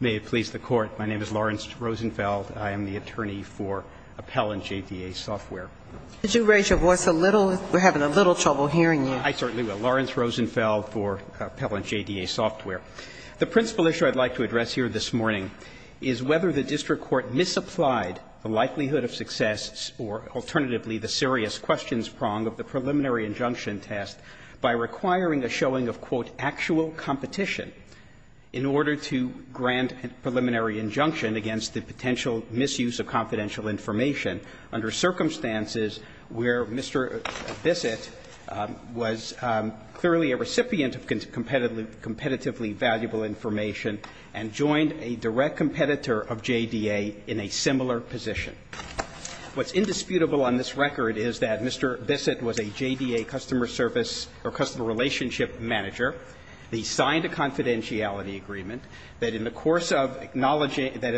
May it please the Court, my name is Lawrence Rosenfeld. I am the attorney for Appellant JDA Software. Did you raise your voice a little? We're having a little trouble hearing you. I certainly will. Lawrence Rosenfeld for Appellant JDA Software. The principal issue I'd like to address here this morning is whether the district court misapplied the likelihood of success or alternatively the serious questions prong of the preliminary injunction test by requiring a showing of, quote, actual competition in order to grant a preliminary injunction against the potential misuse of confidential information under circumstances where Mr. Bissett was clearly a recipient of competitively valuable information and joined a direct competitor of JDA in a similar position. What's indisputable on this record is that Mr. Bissett was a JDA customer service or customer relationship manager. He signed a confidentiality agreement that in the course of acknowledging that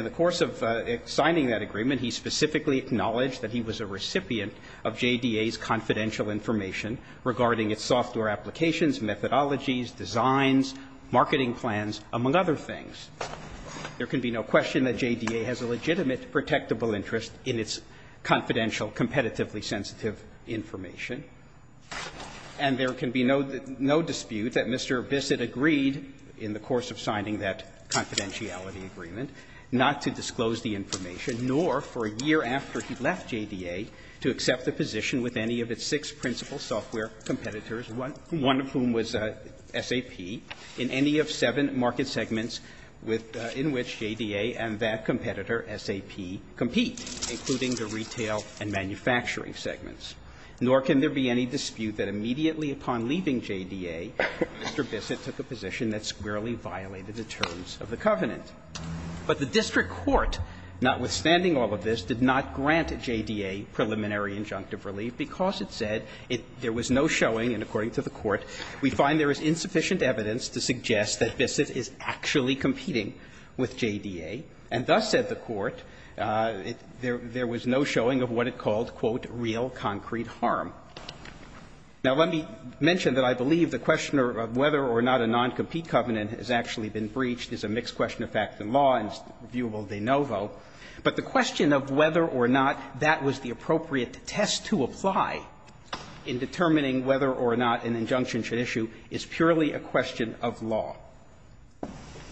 he was a recipient of JDA's confidential information regarding its software applications, methodologies, designs, marketing plans, among other things. There can be no question that JDA has a legitimate protectable interest in its confidential, competitively sensitive information, and there can be no dispute that Mr. Bissett agreed in the course of signing that confidentiality agreement not to disclose the information nor for a year after he left JDA to accept a position with any of its six principal software competitors, one of whom was SAP, in any of seven market segments in which JDA and that competitor SAP compete, including the retail and manufacturing segments. Nor can there be any dispute that immediately upon leaving JDA, Mr. Bissett took a position that squarely violated the terms of the covenant. But the district court, notwithstanding all of this, did not grant JDA preliminary injunctive relief because it said there was no showing, and according to the Court, we find there is insufficient evidence to suggest that Bissett is actually competing with JDA, and thus said the Court, there was no showing of what it called, quote, real concrete harm. Now, let me mention that I believe the question of whether or not a non-compete covenant has actually been breached is a mixed question of fact in law and is viewable de novo, but the question of whether or not that was the appropriate test to apply in determining whether or not an injunction should issue is purely a question of law,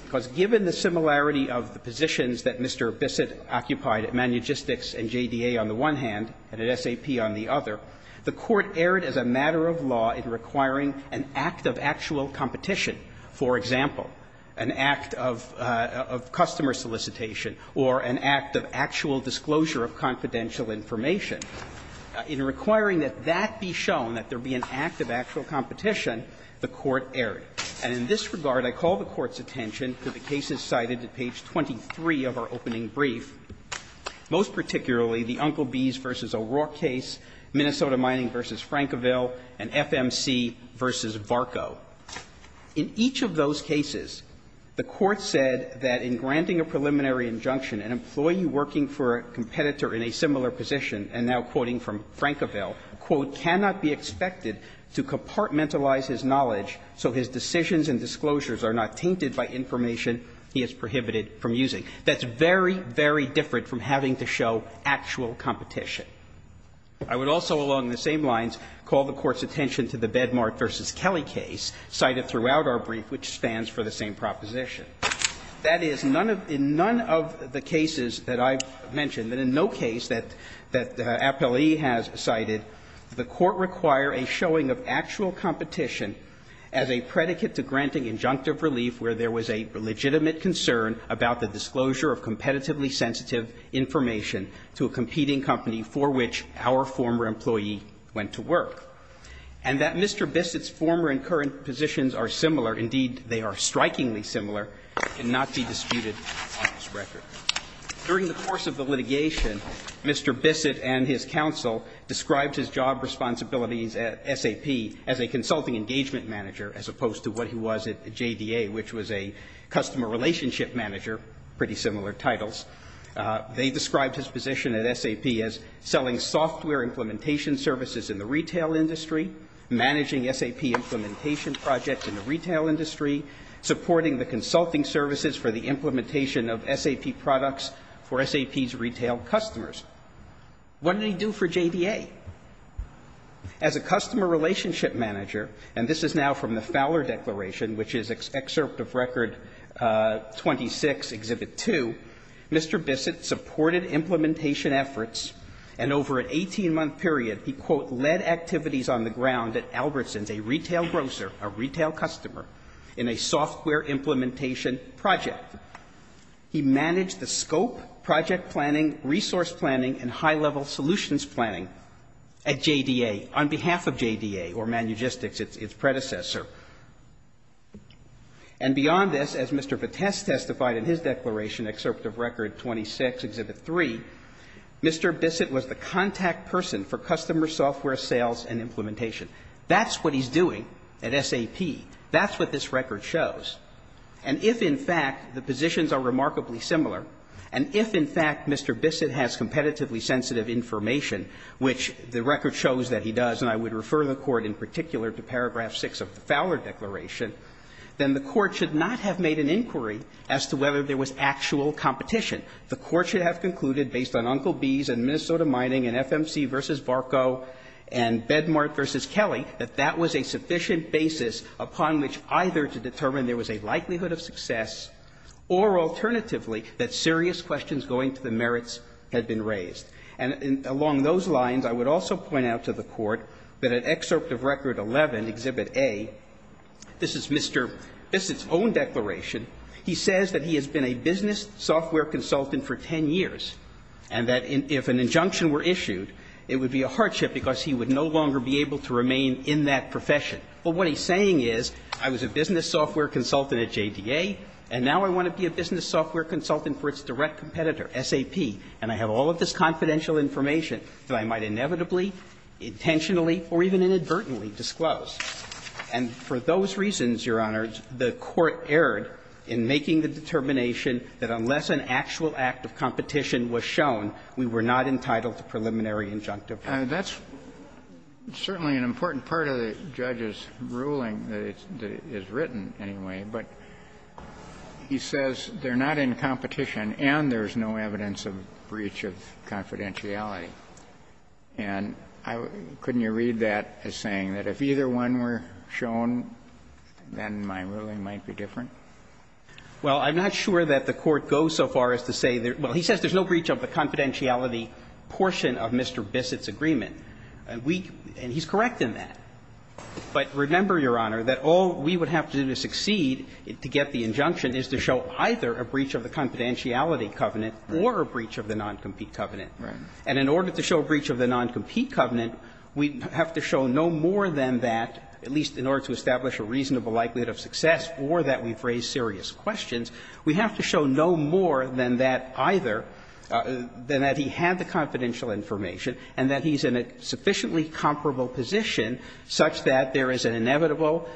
because given the similarity of the positions that Mr. Bissett occupied at ManuGistics and JDA on the one hand and at SAP on the other, the Court erred as a matter of law in requiring an act of actual competition for an injunction such as, for example, an act of customer solicitation or an act of actual disclosure of confidential information. In requiring that that be shown, that there be an act of actual competition, the Court erred. And in this regard, I call the Court's attention to the cases cited at page 23 of our opening brief, most particularly the Uncle Bees v. O'Rourke case, Minnesota Mining v. Frankville, and FMC v. Varco. In each of those cases, the Court said that in granting a preliminary injunction an employee working for a competitor in a similar position, and now quoting from Frankville, quote, "...cannot be expected to compartmentalize his knowledge so his decisions and disclosures are not tainted by information he has prohibited from using." That's very, very different from having to show actual competition. I would also, along the same lines, call the Court's attention to the Bedmark v. Kelly case cited throughout our brief, which stands for the same proposition. That is, none of the cases that I've mentioned, that in no case that Appellee has cited, the Court require a showing of actual competition as a predicate to granting injunctive relief where there was a legitimate concern about the disclosure of competitively sensitive information to a competing company for which our former employee went to work. And that Mr. Bissett's former and current positions are similar, indeed, they are strikingly similar, cannot be disputed on this record. During the course of the litigation, Mr. Bissett and his counsel described his job responsibilities at SAP as a consulting engagement manager, as opposed to what he was at JDA, which was a customer relationship manager, pretty similar titles. They described his position at SAP as selling software implementation services in the retail industry, managing SAP implementation projects in the retail industry, supporting the consulting services for the implementation of SAP products for SAP's retail customers. What did he do for JDA? As a customer relationship manager, and this is now from the Fowler Declaration, which is excerpt of Record 26, Exhibit 2, Mr. Bissett supported implementation efforts, and over an 18-month period, he, quote, "...led activities on the ground at Albertsons, a retail grocer, a retail customer, in a software implementation project. He managed the scope, project planning, resource planning, and high-level solutions planning at JDA on behalf of JDA, or ManUgistics, its predecessor." And beyond this, as Mr. Patess testified in his declaration, excerpt of Record 26, Exhibit 3, Mr. Bissett was the contact person for customer software sales and implementation. That's what he's doing at SAP. That's what this record shows. And if, in fact, the positions are remarkably similar, and if, in fact, Mr. Bissett has competitively sensitive information, which the record shows that he does, and I would refer the Court in particular to paragraph 6 of the Fowler Declaration, then the Court should not have made an inquiry as to whether there was actual competition. The Court should have concluded, based on Uncle B's and Minnesota Mining and FMC v. Barco and Bedmart v. Kelly, that that was a sufficient basis upon which either to determine there was a likelihood of success or, alternatively, that serious questions going to the merits had been raised. And along those lines, I would also point out to the Court that in Excerpt of Record 11, Exhibit A, this is Mr. Bissett's own declaration. He says that he has been a business software consultant for 10 years, and that if an injunction were issued, it would be a hardship because he would no longer be able to remain in that profession. But what he's saying is, I was a business software consultant at JDA, and now I want to be a business software consultant for its direct competitor, SAP, and I have all of this confidential information that I might inevitably, intentionally or even inadvertently, disclose. And for those reasons, Your Honors, the Court erred in making the determination that unless an actual act of competition was shown, we were not entitled to preliminary injunctive. Robertson, That's certainly an important part of the judge's ruling that it's – that it's written anyway, but he says they're not in competition and there's no evidence of breach of confidentiality. And I – couldn't you read that as saying that if either one were shown, then my ruling might be different? Well, I'm not sure that the Court goes so far as to say that – well, he says there's no breach of the confidentiality portion of Mr. Bissett's agreement. And we – and he's correct in that. But remember, Your Honor, that all we would have to do to succeed to get the injunction is to show either a breach of the confidentiality covenant or a breach of the noncompete covenant. Right. And in order to show a breach of the noncompete covenant, we have to show no more than that, at least in order to establish a reasonable likelihood of success or that we've raised serious questions, we have to show no more than that either – than that he had the confidential information and that he's in a sufficiently comparable position such that there is an inevitable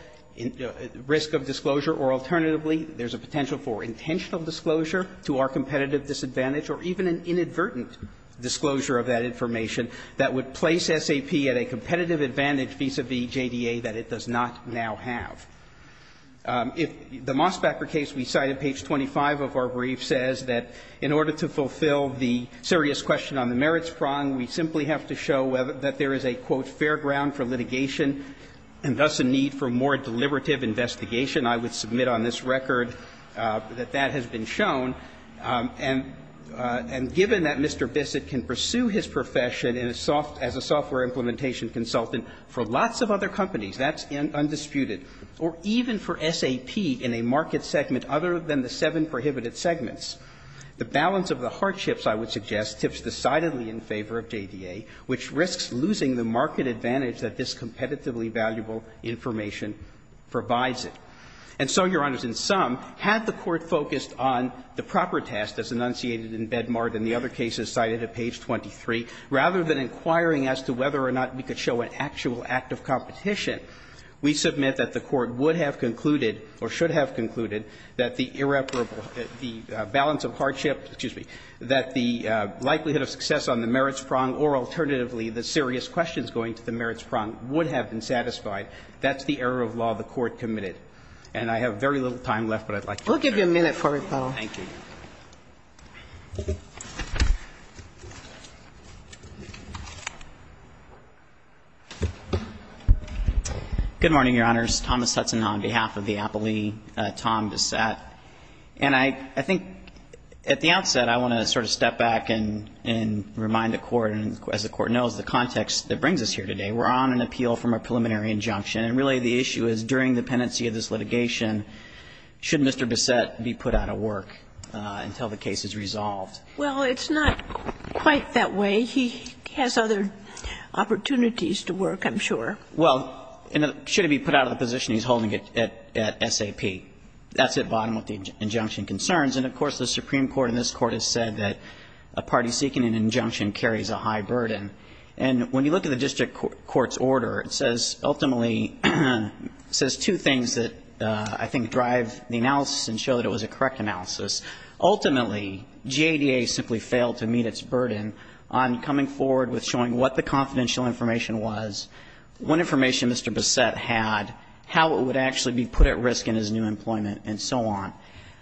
risk of disclosure or alternatively there's a potential for intentional disclosure to our competitive disadvantage or even an inadvertent disclosure of that information that would place SAP at a competitive advantage vis-à-vis JDA that it does not now have. If the Mosbacher case we cite at page 25 of our brief says that in order to fulfill the serious question on the merits prong, we simply have to show whether – that there is a, quote, fair ground for litigation and thus a need for more deliberative investigation, I would submit on this record that that has been shown. And given that Mr. Bissett can pursue his profession in a soft – as a software implementation consultant for lots of other companies, that's undisputed, or even for SAP in a market segment other than the seven prohibited segments, the balance of the hardships, I would suggest, tips decidedly in favor of JDA, which risks losing the market advantage that this competitively valuable information provides it. And so, Your Honors, in sum, had the Court focused on the proper test as enunciated in Bedmar than the other cases cited at page 23, rather than inquiring as to whether or not we could show an actual act of competition, we submit that the Court would have concluded or should have concluded that the irreparable – the balance of hardship – excuse me – that the likelihood of success on the merits prong or alternatively the serious questions going to the merits prong would have been satisfied. That's the error of law the Court committed. And I have very little time left, but I'd like to – We'll give you a minute for a rebuttal. Thank you. Good morning, Your Honors. Thomas Hudson on behalf of the appellee, Tom Bissett. And I think at the outset I want to sort of step back and remind the Court, and as the Court knows, the context that brings us here today. We're on an appeal from a preliminary injunction, and really the issue is during the pendency of this litigation, should Mr. Bissett be put out of work until the case is resolved? Well, it's not quite that way. He has other opportunities to work, I'm sure. Well, and should he be put out of the position he's holding at SAP. That's at bottom of the injunction concerns, and of course, the Supreme Court in this Court has said that a party seeking an injunction carries a high burden. And when you look at the district court's order, it says, ultimately, it says two things that I think drive the analysis and show that it was a correct analysis. Ultimately, GADA simply failed to meet its burden on coming forward with showing what the confidential information was, what information Mr. Bissett had, how it would actually be put at risk in his new employment, and so on.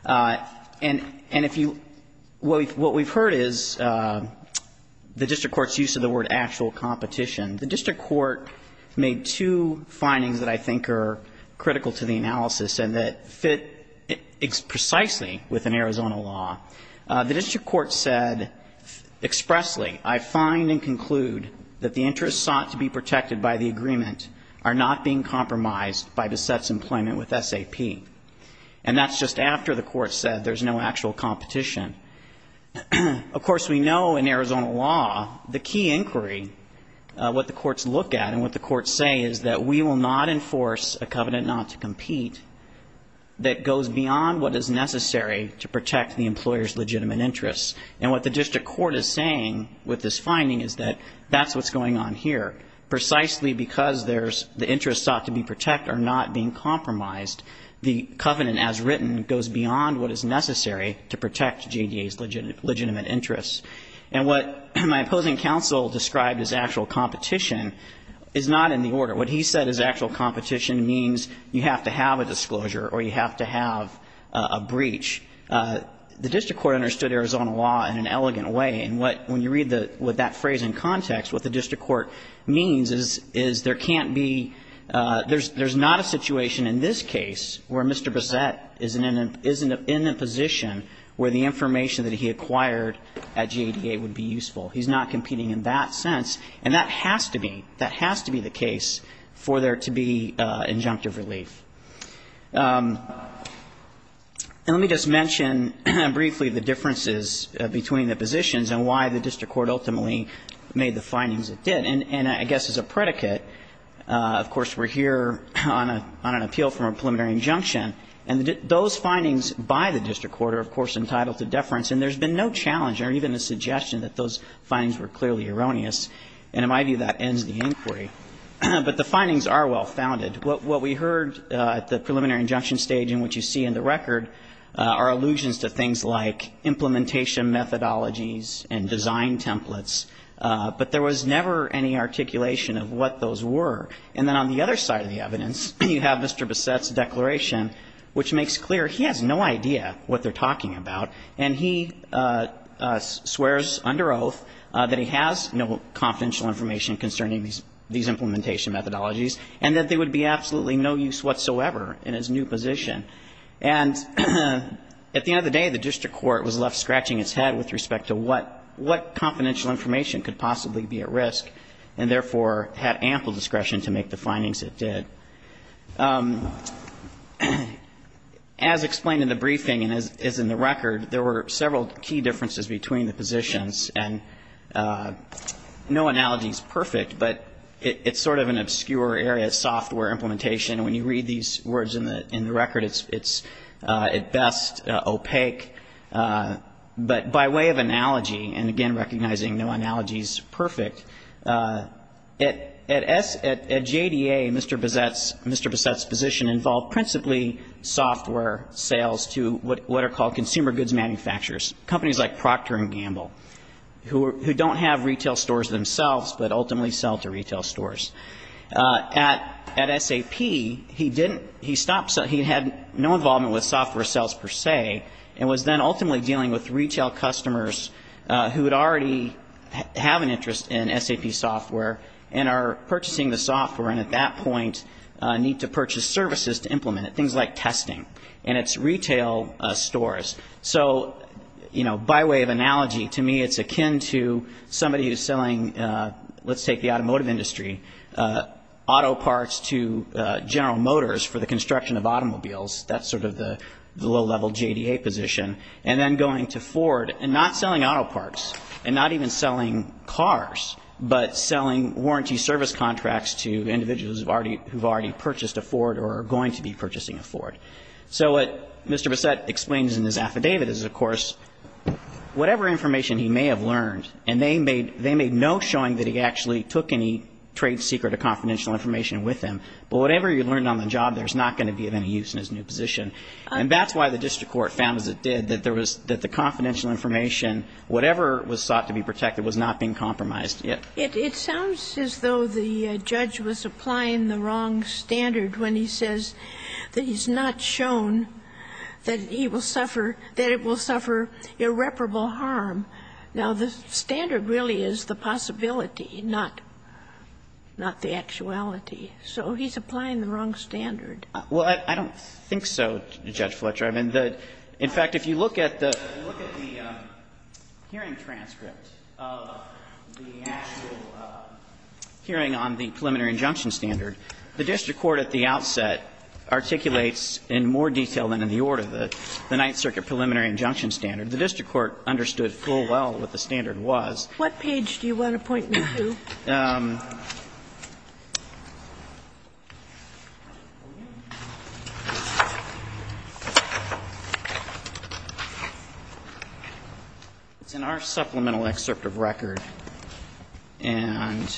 And if you, what we've heard is the district court's use of the word actual competition. The district court made two findings that I think are critical to the analysis and that fit precisely with an Arizona law. The district court said expressly, I find and conclude that the interests sought to be protected by the agreement are not being compromised by Bissett's employment with SAP. And that's just after the court said there's no actual competition. Of course, we know in Arizona law, the key inquiry, what the courts look at and what the courts say is that we will not enforce a covenant not to compete that goes beyond what is necessary to protect the employer's legitimate interests. And what the district court is saying with this finding is that that's what's going on here. Precisely because there's, the interests sought to be protected are not being compromised, the covenant as written goes beyond what is necessary to protect JDA's legitimate interests. And what my opposing counsel described as actual competition is not in the order. What he said is actual competition means you have to have a disclosure or you have to have a breach. The district court understood Arizona law in an elegant way. And what, when you read the, with that phrase in context, what the district court means is, is there can't be, there's not a situation in this case where Mr. Bissett isn't in a position where the information that he acquired at JDA would be useful. He's not competing in that sense. And that has to be, that has to be the case for there to be injunctive relief. Let me just mention briefly the differences between the positions and why the district court ultimately made the findings it did. And I guess as a predicate, of course, we're here on an appeal from a preliminary injunction. And those findings by the district court are, of course, entitled to deference. And there's been no challenge or even a suggestion that those findings were clearly erroneous. And it might be that ends the inquiry. But the findings are well founded. What we heard at the preliminary injunction stage in which you see in the record are allusions to things like implementation methodologies and design templates. But there was never any articulation of what those were. And then on the other side of the evidence, you have Mr. Bissett's declaration, which makes clear he has no idea what they're talking about. And he swears under oath that he has no confidential information concerning these implementation methodologies, and that they would be absolutely no use whatsoever in his new position. And at the end of the day, the district court was left scratching its head with respect to what confidential information could possibly be at risk, and therefore, had ample discretion to make the findings it did. As explained in the briefing and as is in the record, there were several key differences between the positions. And no analogy's perfect, but it's sort of an obscure area of software implementation. And when you read these words in the record, it's at best opaque. But by way of analogy, and again, recognizing no analogy's perfect, at S, at JDA, Mr. Bissett's, Mr. Bissett's position involved principally software sales to what are called consumer goods manufacturers, companies like Procter & Gamble, who don't have retail stores themselves, but ultimately sell to retail stores. At SAP, he didn't, he stopped, he had no involvement with software sales per se, and was then ultimately dealing with retail customers who would already have an interest in SAP software, and are purchasing the software, and at that point need to purchase services to implement it, things like testing, and it's retail stores. So by way of analogy, to me it's akin to somebody who's selling, let's take the automotive industry, auto parts to General Motors for the construction of automobiles. That's sort of the low-level JDA position. And then going to Ford, and not selling auto parts, and not even selling cars, but selling warranty service contracts to individuals who've already purchased a Ford or are going to be purchasing a Ford. So what Mr. Bissett explains in his affidavit is, of course, whatever information he may have learned, and they made no showing that he actually took any trade secret or confidential information with him, but whatever he learned on the job, there's not going to be of any use in his new position. And that's why the district court found, as it did, that there was, that the confidential information, whatever was sought to be protected, was not being compromised yet. It sounds as though the judge was applying the wrong standard when he says that he's not shown that he will suffer, that it will suffer irreparable harm. Now, the standard really is the possibility, not the actuality. So he's applying the wrong standard. Well, I don't think so, Judge Fletcher. I mean, in fact, if you look at the hearing transcript of the actual hearing on the preliminary injunction standard, the district court at the outset articulates in more detail than in the order, the Ninth Circuit preliminary injunction standard. The district court understood full well what the standard was. What page do you want to point me to? It's in our supplemental excerpt of record, and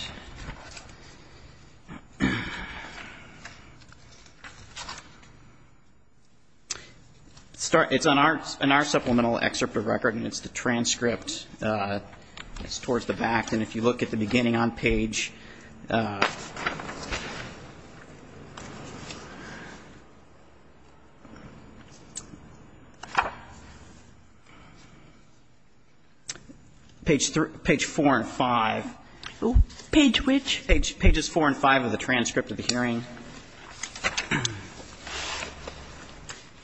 it's on our supplemental excerpt of record, and it's the transcript that's towards the back. And if you look at the beginning on page, page four and five. Page which? Pages four and five of the transcript of the hearing.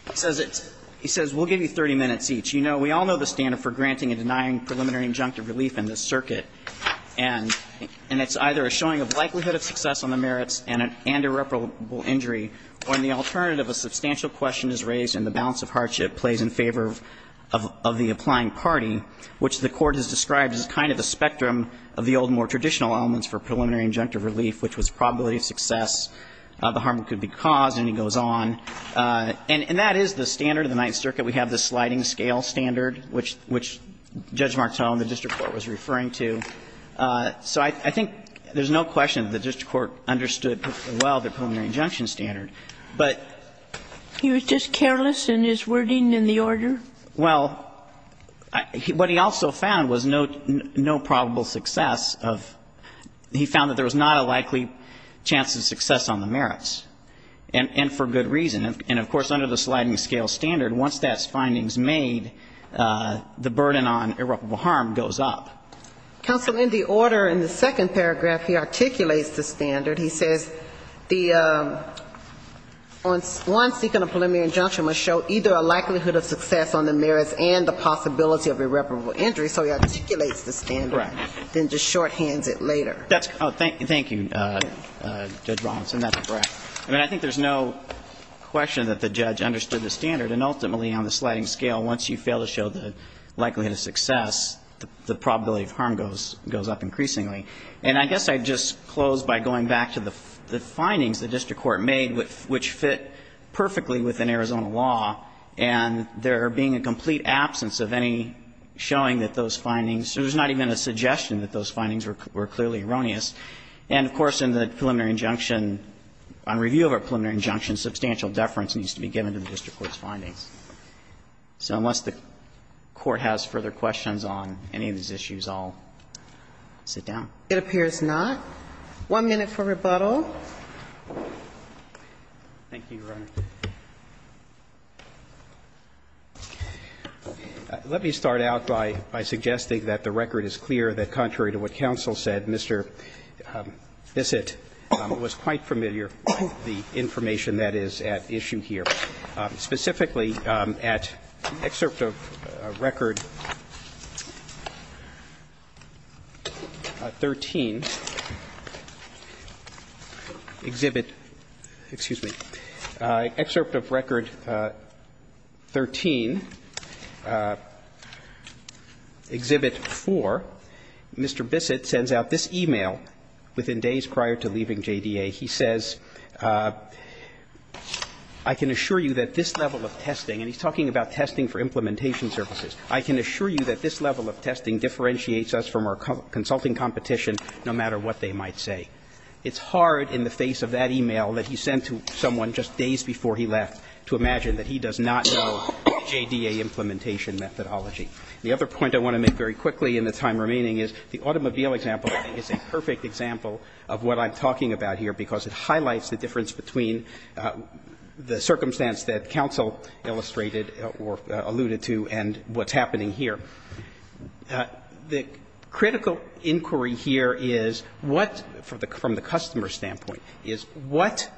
It says it's, he says, we'll give you 30 minutes each. You know, we all know the standard for granting and denying preliminary injunctive relief in this circuit. And it's either a showing of likelihood of success on the merits and irreparable injury, or in the alternative, a substantial question is raised and the balance of hardship plays in favor of the applying party, which the Court has described as kind of a spectrum of the old, more traditional elements for preliminary injunctive relief, which was probability of success, the harm that could be caused, and he goes on. And that is the standard of the Ninth Circuit. We have the sliding scale standard, which Judge Martone, the district court, was referring to. So I think there's no question the district court understood well the preliminary injunction standard. But he was just careless in his wording in the order? Well, what he also found was no probable success of, he found that there was not a likely chance of success on the merits, and for good reason. And of course, under the sliding scale standard, once that finding is made, the burden on irreparable harm goes up. Counsel, in the order in the second paragraph, he articulates the standard. He says the, once seeking a preliminary injunction must show either a likelihood of success on the merits and the possibility of irreparable injury. So he articulates the standard, then just shorthands it later. Oh, thank you, Judge Robinson. That's correct. I mean, I think there's no question that the judge understood the standard. And ultimately, on the sliding scale, once you fail to show the likelihood of success, the probability of harm goes up increasingly. And I guess I'd just close by going back to the findings the district court made, which fit perfectly within Arizona law. And there being a complete absence of any showing that those findings, there was not even a suggestion that those findings were clearly erroneous. And of course, in the preliminary injunction, on review of our preliminary injunction, substantial deference needs to be given to the district court's findings. So unless the Court has further questions on any of these issues, I'll sit down. It appears not. One minute for rebuttal. Thank you, Your Honor. Let me start out by suggesting that the record is clear that contrary to what counsel said, Mr. Bissett was quite familiar with the information that is at issue here. Specifically, at excerpt of Record 13, Exhibit 13, Exhibit 4, Mr. Bissett sends out this e-mail within days prior to leaving JDA. He says, I can assure you that this level of testing, and he's talking about testing for implementation services. I can assure you that this level of testing differentiates us from our consulting competition, no matter what they might say. It's hard in the face of that e-mail that he sent to someone just days before he left to imagine that he does not know the JDA implementation methodology. The other point I want to make very quickly in the time remaining is the automobile example is a perfect example of what I'm talking about here, because it highlights the difference between the circumstance that counsel illustrated or alluded to and what's happening here. The critical inquiry here is what, from the customer's standpoint, is what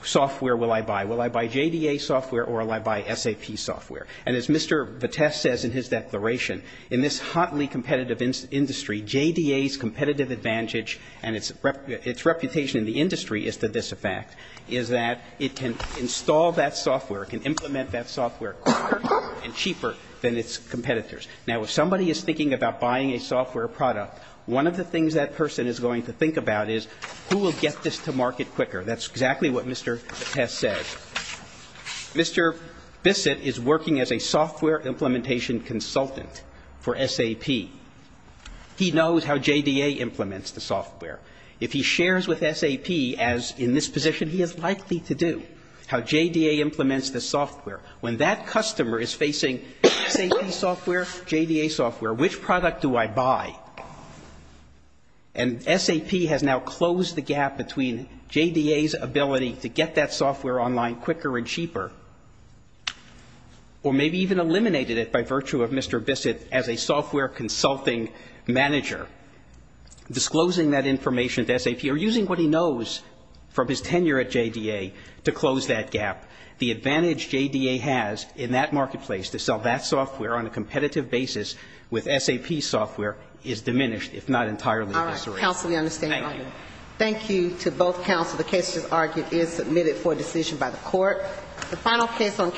software will I buy? Will I buy JDA software or will I buy SAP software? And as Mr. Bissett says in his declaration, in this hotly competitive industry, JDA's competitive advantage and its reputation in the industry is to this effect, is that it can install that software, it can implement that software quicker and cheaper than its competitors. Now, if somebody is thinking about buying a software product, one of the things that person is going to think about is who will get this to market quicker. That's exactly what Mr. Bissett says. Mr. Bissett is working as a software implementation consultant for SAP. He knows how JDA implements the software. If he shares with SAP, as in this position, he is likely to do, how JDA implements the software. When that customer is facing SAP software, JDA software, which product do I buy? And SAP has now closed the gap between JDA's ability to get that software online quicker and cheaper, or maybe even eliminated it by virtue of Mr. Bissett as a software consulting manager, disclosing that information to SAP, or using what he knows from his tenure at JDA to close that gap. The advantage JDA has in that marketplace to sell that software on a competitive basis with SAP software is diminished, if not entirely. All right. Counsel, we understand. Thank you. Thank you to both counsel. The case, as argued, is submitted for decision by the court. The final case on